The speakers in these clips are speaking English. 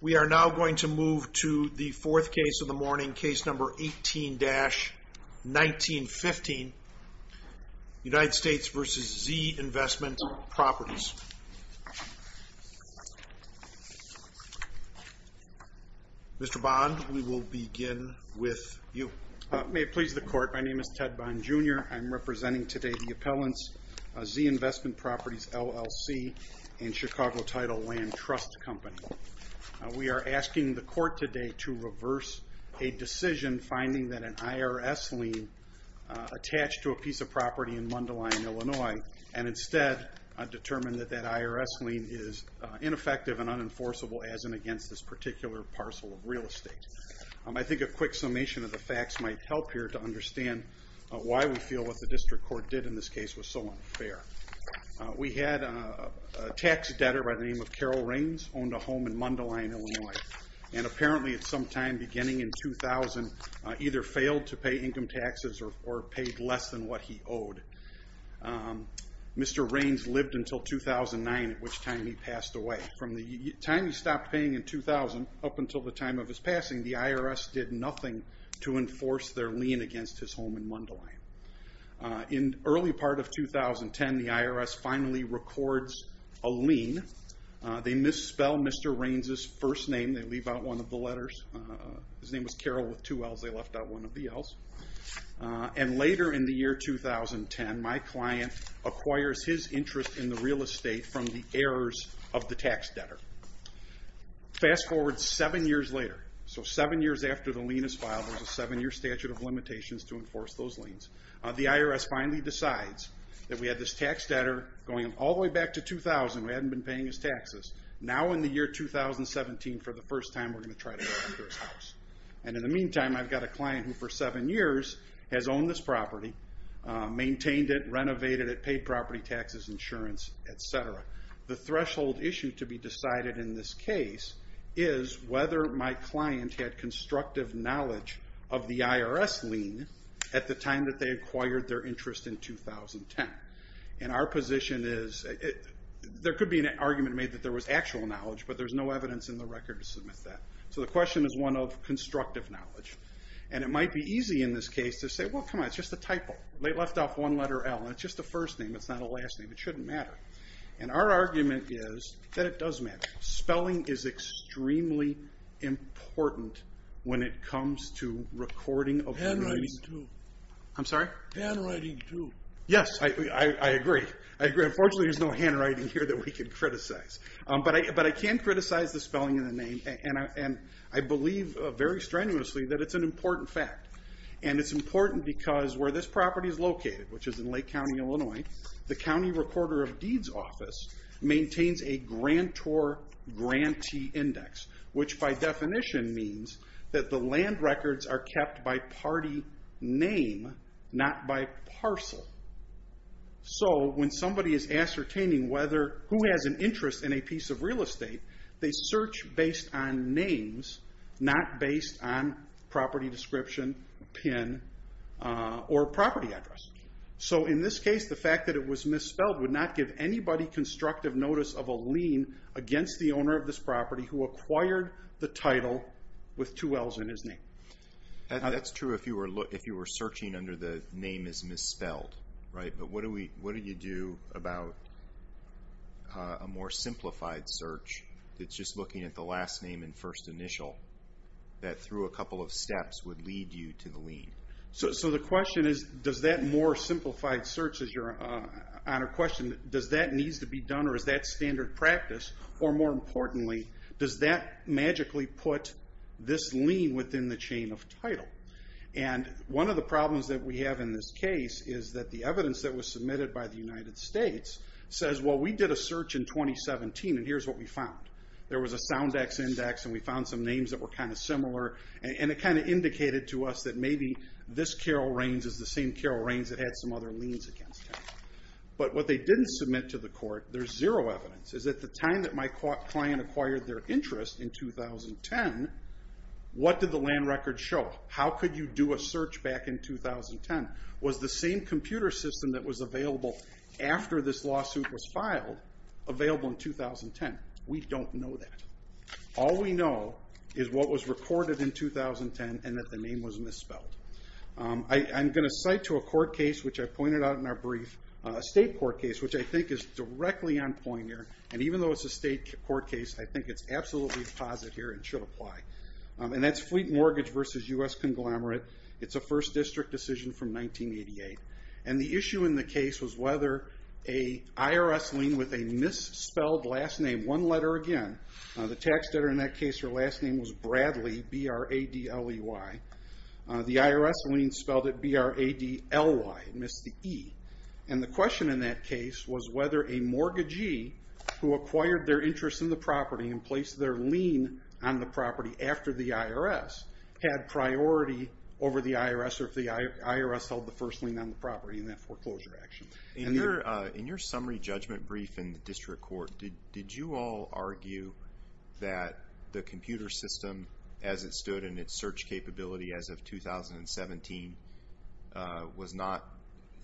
We are now going to move to the fourth case of the morning, case number 18-1915, United States v. Z Investment Properties. Mr. Bond, we will begin with you. May it please the Court, my name is Ted Bond, Jr. I'm representing today the appellants, Z Investment Properties, LLC and Chicago Title Land Trust Company. We are asking the Court today to reverse a decision finding that an IRS lien attached to a piece of property in Mundelein, Illinois and instead determine that that IRS lien is ineffective and unenforceable as and against this particular parcel of real estate. I think a quick summation of the facts might help here to understand why we feel what the District Court did in this case was so unfair. We had a tax debtor by the name of Carol Raines, owned a home in Mundelein, Illinois, and apparently at some time beginning in 2000 either failed to pay income taxes or paid less than what he owed. Mr. Raines lived until 2009, at which time he passed away. From the time he stopped paying in 2000 up until the time of his passing, the IRS did nothing to enforce their lien against his home in Mundelein. In the early part of 2010, the IRS finally records a lien. They misspell Mr. Raines' first name. They leave out one of the letters. His name was Carol with two L's. They left out one of the L's. Later in the year 2010, my client acquires his interest in the real estate from the heirs of the tax debtor. Fast forward seven years later. Seven years after the lien is filed, there's a seven-year statute of limitations to enforce those liens. The IRS finally decides that we had this tax debtor going all the way back to 2000 who hadn't been paying his taxes. Now in the year 2017, for the first time, we're going to try to go after his house. In the meantime, I've got a client who for seven years has owned this property, maintained it, renovated it, paid property taxes, insurance, etc. The threshold issue to be decided in this case is whether my client had constructive knowledge of the IRS lien at the time that they acquired their interest in 2010. Our position is there could be an argument made that there was actual knowledge, but there's no evidence in the record to submit that. So the question is one of constructive knowledge. And it might be easy in this case to say, well, come on, it's just a typo. They left off one letter L, and it's just a first name. It's not a last name. It shouldn't matter. And our argument is that it does matter. Spelling is extremely important when it comes to recording of- Handwriting, too. I'm sorry? Handwriting, too. Yes, I agree. I agree. Unfortunately, there's no handwriting here that we can criticize. But I can criticize the spelling and the name, and I believe very strenuously that it's an important fact. And it's important because where this property is located, which is in Lake County, Illinois, the County Recorder of Deeds Office maintains a grantor-grantee index, which by definition means that the land records are kept by party name, not by parcel. So when somebody is ascertaining who has an interest in a piece of real estate, they search based on names, not based on property description, PIN, or property address. So in this case, the fact that it was misspelled would not give anybody constructive notice of a lien against the owner of this property who acquired the title with two L's in his name. That's true if you were searching under the name is misspelled, right? But what do you do about a more simplified search that's just looking at the last name and first initial that, through a couple of steps, would lead you to the lien? So the question is, does that more simplified search, as you're on a question, does that need to be done or is that standard practice? Or more importantly, does that magically put this lien within the chain of title? And one of the problems that we have in this case is that the evidence that was submitted by the United States says, well, we did a search in 2017 and here's what we found. There was a Soundex index and we found some names that were kind of similar, and it kind of indicated to us that maybe this Carol Raines is the same Carol Raines that had some other liens against her. But what they didn't submit to the court, there's zero evidence, is at the time that my client acquired their interest in 2010, what did the land record show? How could you do a search back in 2010? Was the same computer system that was available after this lawsuit was filed available in 2010? We don't know that. All we know is what was recorded in 2010 and that the name was misspelled. I'm going to cite to a court case, which I pointed out in our brief, a state court case, which I think is directly on point here. And even though it's a state court case, I think it's absolutely positive here and should apply. And that's Fleet Mortgage versus U.S. Conglomerate. It's a first district decision from 1988. And the issue in the case was whether an IRS lien with a misspelled last name, one letter again, the tax debtor in that case, her last name was Bradley, B-R-A-D-L-E-Y. The IRS lien spelled it B-R-A-D-L-Y. It missed the E. And the question in that case was whether a mortgagee who acquired their interest in the property and placed their lien on the property after the IRS had priority over the IRS or if the IRS held the first lien on the property in that foreclosure action. In your summary judgment brief in the district court, did you all argue that the computer system as it stood in its search capability as of 2017 was not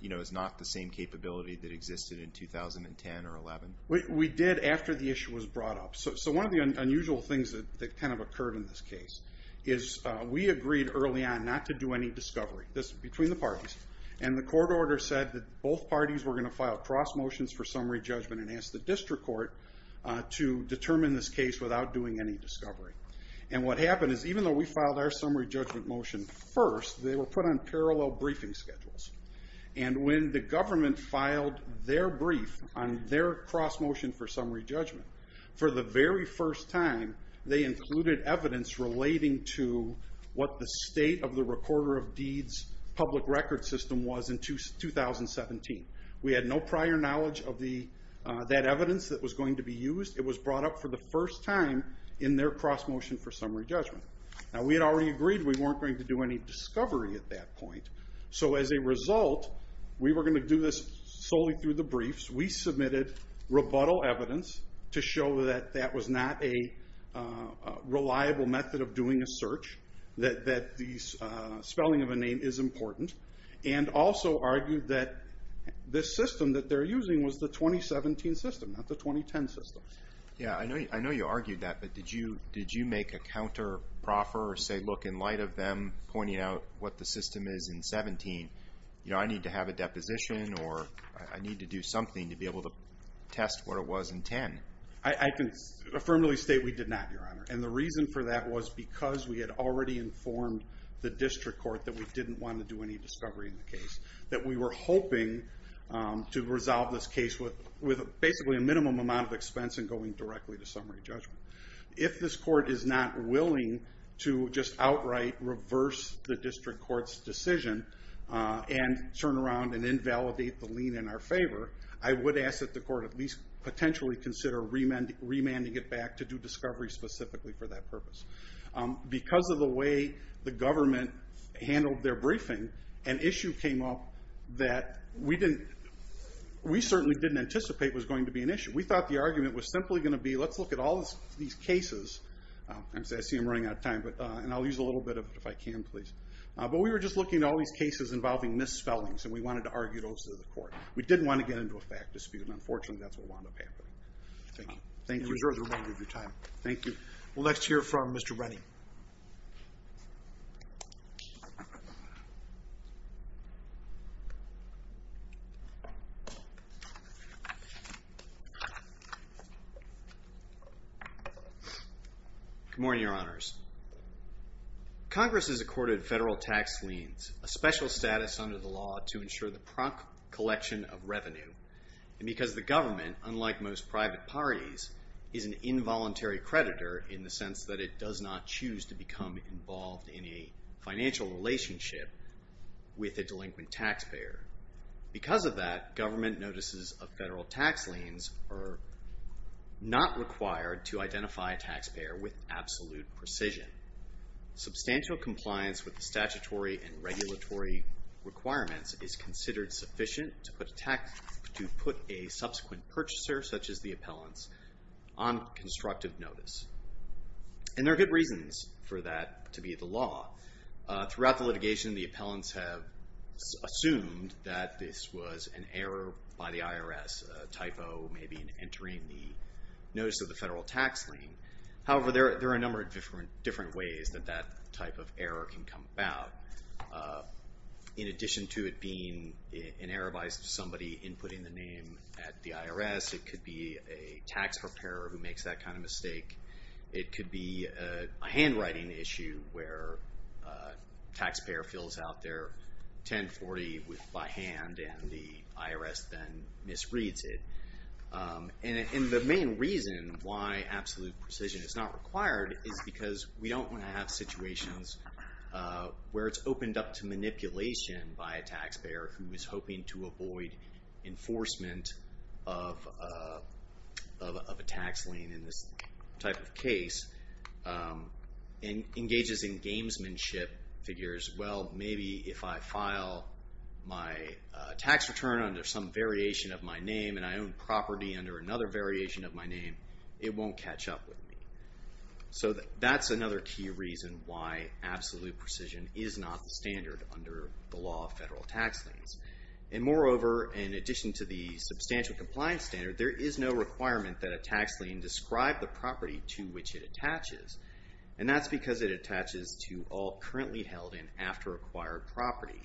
the same capability that existed in 2010 or 2011? We did after the issue was brought up. So one of the unusual things that kind of occurred in this case is we agreed early on not to do any discovery, this was between the parties, and the court order said that both parties were going to file cross motions for summary judgment and ask the district court to determine this case without doing any discovery. And what happened is even though we filed our summary judgment motion first, they were put on parallel briefing schedules. And when the government filed their brief on their cross motion for summary judgment, for the very first time they included evidence relating to what the state of the recorder of deeds public record system was in 2017. We had no prior knowledge of that evidence that was going to be used. It was brought up for the first time in their cross motion for summary judgment. Now we had already agreed we weren't going to do any discovery at that point. So as a result, we were going to do this solely through the briefs. We submitted rebuttal evidence to show that that was not a reliable method of doing a search, that the spelling of a name is important, and also argued that the system that they're using was the 2017 system, not the 2010 system. Yeah, I know you argued that, but did you make a counter proffer or say, look, in light of them pointing out what the system is in 17, I need to have a deposition or I need to do something to be able to test what it was in 10? I can affirmatively state we did not, Your Honor. And the reason for that was because we had already informed the district court that we didn't want to do any discovery in the case, that we were hoping to resolve this case with basically a minimum amount of expense and going directly to summary judgment. If this court is not willing to just outright reverse the district court's decision and turn around and invalidate the lien in our favor, I would ask that the court at least potentially consider remanding it back to do discovery specifically for that purpose. Because of the way the government handled their briefing, an issue came up that we certainly didn't anticipate was going to be an issue. We thought the argument was simply going to be, let's look at all these cases. I see I'm running out of time, and I'll use a little bit of it if I can, please. But we were just looking at all these cases involving misspellings, and we wanted to argue those to the court. We didn't want to get into a fact dispute, and unfortunately that's what wound up happening. Thank you. Thank you. Thank you for your time. Thank you. We'll next hear from Mr. Rennie. Good morning, Your Honors. Congress has accorded federal tax liens a special status under the law to ensure the prompt collection of revenue, and because the government, unlike most private parties, is an involuntary creditor in the sense that it does not choose to become involved in a financial relationship with a delinquent taxpayer. Because of that, government notices of federal tax liens are not required to identify a taxpayer with absolute precision. Substantial compliance with the statutory and regulatory requirements is considered sufficient to put a subsequent purchaser, such as the appellants, on constructive notice. And there are good reasons for that to be the law. Throughout the litigation, the appellants have assumed that this was an error by the IRS, a typo maybe in entering the notice of the federal tax lien. However, there are a number of different ways that that type of error can come about. In addition to it being an error by somebody inputting the name at the IRS, it could be a tax preparer who makes that kind of mistake. It could be a handwriting issue where a taxpayer fills out their 1040 by hand and the IRS then misreads it. And the main reason why absolute precision is not required is because we don't want to have situations where it's opened up to manipulation by a taxpayer who is hoping to avoid enforcement of a tax lien in this type of case and engages in gamesmanship figures. Well, maybe if I file my tax return under some variation of my name and I own property under another variation of my name, it won't catch up with me. So that's another key reason why absolute precision is not the standard under the law of federal tax liens. And moreover, in addition to the substantial compliance standard, there is no requirement that a tax lien describe the property to which it attaches. And that's because it attaches to all currently held and after-acquired property.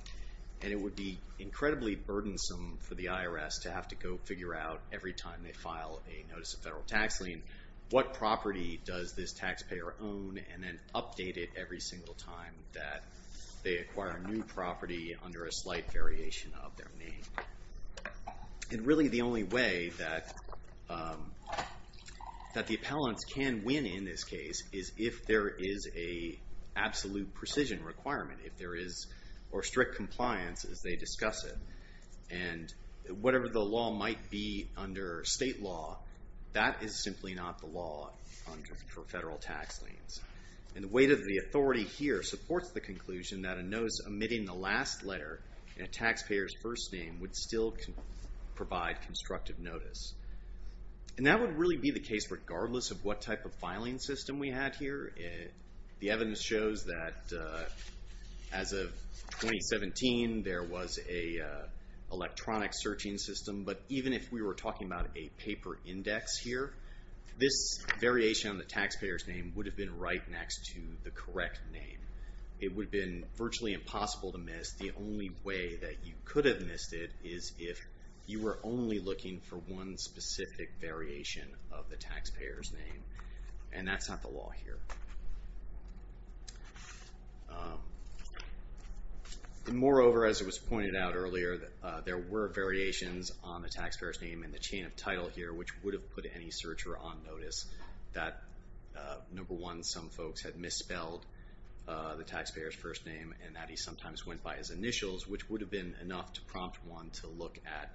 And it would be incredibly burdensome for the IRS to have to go figure out every time they file a notice of federal tax lien, what property does this taxpayer own, and then update it every single time that they acquire a new property under a slight variation of their name. And really the only way that the appellants can win in this case is if there is a absolute precision requirement, if there is strict compliance as they discuss it. And whatever the law might be under state law, that is simply not the law for federal tax liens. And the weight of the authority here supports the conclusion that a notice omitting the last letter in a taxpayer's first name would still provide constructive notice. And that would really be the case regardless of what type of filing system we had here. The evidence shows that as of 2017, there was an electronic searching system. But even if we were talking about a paper index here, this variation on the taxpayer's name would have been right next to the correct name. It would have been virtually impossible to miss. The only way that you could have missed it is if you were only looking for one specific variation of the taxpayer's name. And that's not the law here. Moreover, as it was pointed out earlier, there were variations on the taxpayer's name in the chain of title here, which would have put any searcher on notice that number one, some folks had misspelled the taxpayer's first name and that he sometimes went by his initials, which would have been enough to prompt one to look at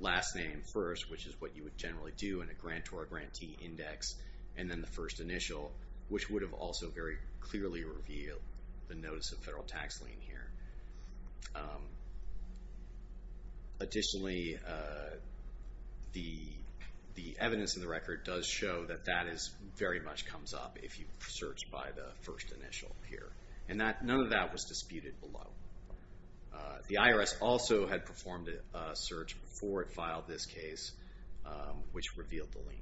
last name first, which is what you would generally do in a grant or a grantee index, and then the first initial, which would have also very clearly revealed the notice of federal tax lien here. Additionally, the evidence in the record does show that that very much comes up if you search by the first initial here. And none of that was disputed below. The IRS also had performed a search before it filed this case, which revealed the lien.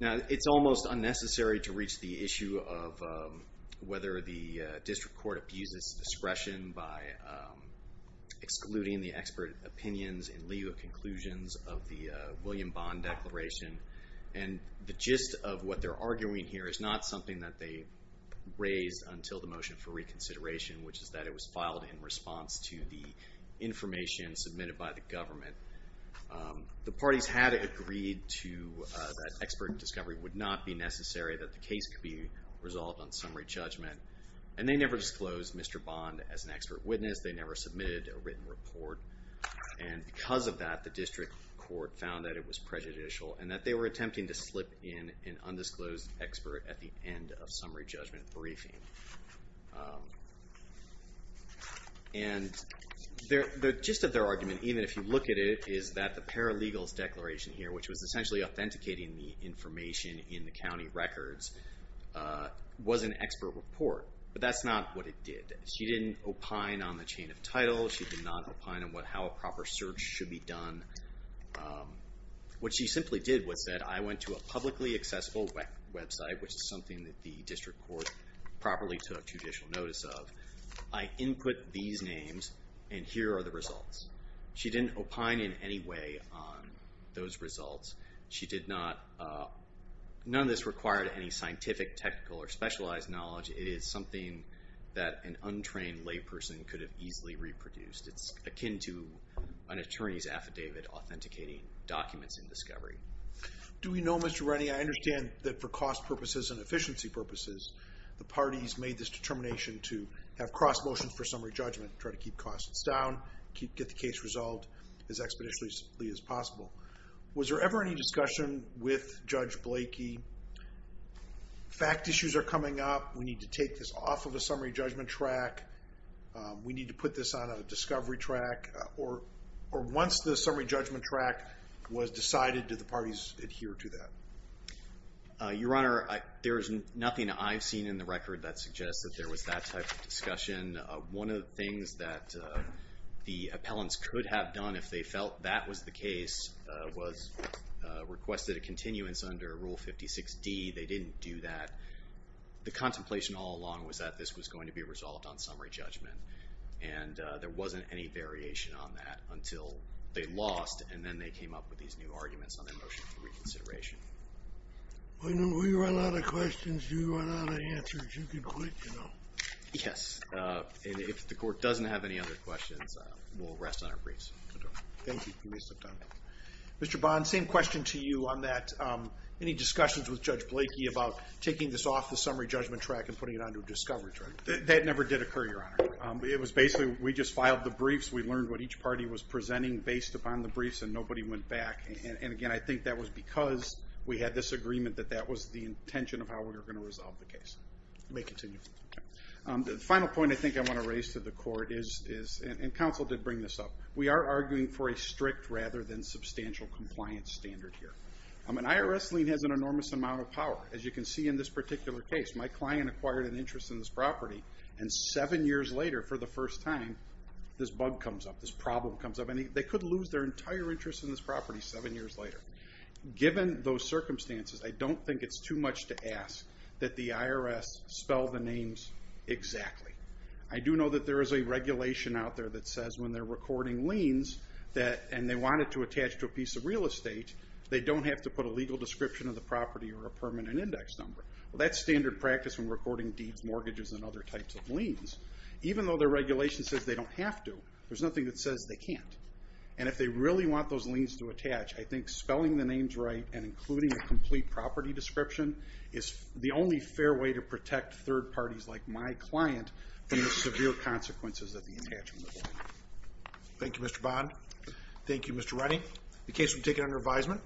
Now, it's almost unnecessary to reach the issue of whether the district court abuses discretion by excluding the expert opinions in lieu of conclusions of the William Bond Declaration. And the gist of what they're arguing here is not something that they raised until the motion for reconsideration, which is that it was filed in response to the information submitted by the government. The parties had agreed that expert discovery would not be necessary, that the case could be resolved on summary judgment. And they never disclosed Mr. Bond as an expert witness. They never submitted a written report. And because of that, the district court found that it was prejudicial and that they were attempting to slip in an undisclosed expert at the end of summary judgment briefing. And the gist of their argument, even if you look at it, is that the Paralegals Declaration here, which was essentially authenticating the information in the county records, was an expert report. But that's not what it did. She didn't opine on the chain of title. She did not opine on how a proper search should be done. What she simply did was that I went to a publicly accessible website, which is something that the district court properly took judicial notice of. I input these names, and here are the results. She didn't opine in any way on those results. She did not. None of this required any scientific, technical, or specialized knowledge. It is something that an untrained layperson could have easily reproduced. It's akin to an attorney's affidavit authenticating documents in discovery. Do we know, Mr. Rennie, I understand that for cost purposes and efficiency purposes, the parties made this determination to have cross motions for summary judgment, try to keep costs down, get the case resolved as expeditiously as possible. Was there ever any discussion with Judge Blakey, fact issues are coming up, we need to take this off of a summary judgment track, we need to put this on a discovery track, or once the summary judgment track was decided, did the parties adhere to that? Your Honor, there is nothing I've seen in the record that suggests that there was that type of discussion. One of the things that the appellants could have done if they felt that was the case was requested a continuance under Rule 56D. They didn't do that. The contemplation all along was that this was going to be resolved on summary judgment, and there wasn't any variation on that until they lost, and then they came up with these new arguments on their motion for reconsideration. When we run out of questions, you run out of answers. You can quit, you know. Yes. If the Court doesn't have any other questions, we'll rest on our briefs. Thank you. Mr. Bond, same question to you on that. Any discussions with Judge Blakey about taking this off the summary judgment track and putting it on to a discovery track? That never did occur, Your Honor. It was basically we just filed the briefs, we learned what each party was presenting based upon the briefs, and nobody went back. And, again, I think that was because we had this agreement that that was the intention of how we were going to resolve the case. May continue. The final point I think I want to raise to the Court is, and counsel did bring this up, we are arguing for a strict rather than substantial compliance standard here. An IRS lien has an enormous amount of power. As you can see in this particular case, my client acquired an interest in this property, and seven years later, for the first time, this bug comes up, this problem comes up. They could lose their entire interest in this property seven years later. Given those circumstances, I don't think it's too much to ask that the IRS spell the names exactly. I do know that there is a regulation out there that says when they're recording liens and they want it to attach to a piece of real estate, they don't have to put a legal description of the property or a permanent index number. Well, that's standard practice when recording deeds, mortgages, and other types of liens. Even though the regulation says they don't have to, there's nothing that says they can't. And if they really want those liens to attach, I think spelling the names right and including a complete property description is the only fair way to protect third parties like my client from the severe consequences of the attachment. Thank you, Mr. Bond. Thank you, Mr. Redding. The case will be taken under advisement.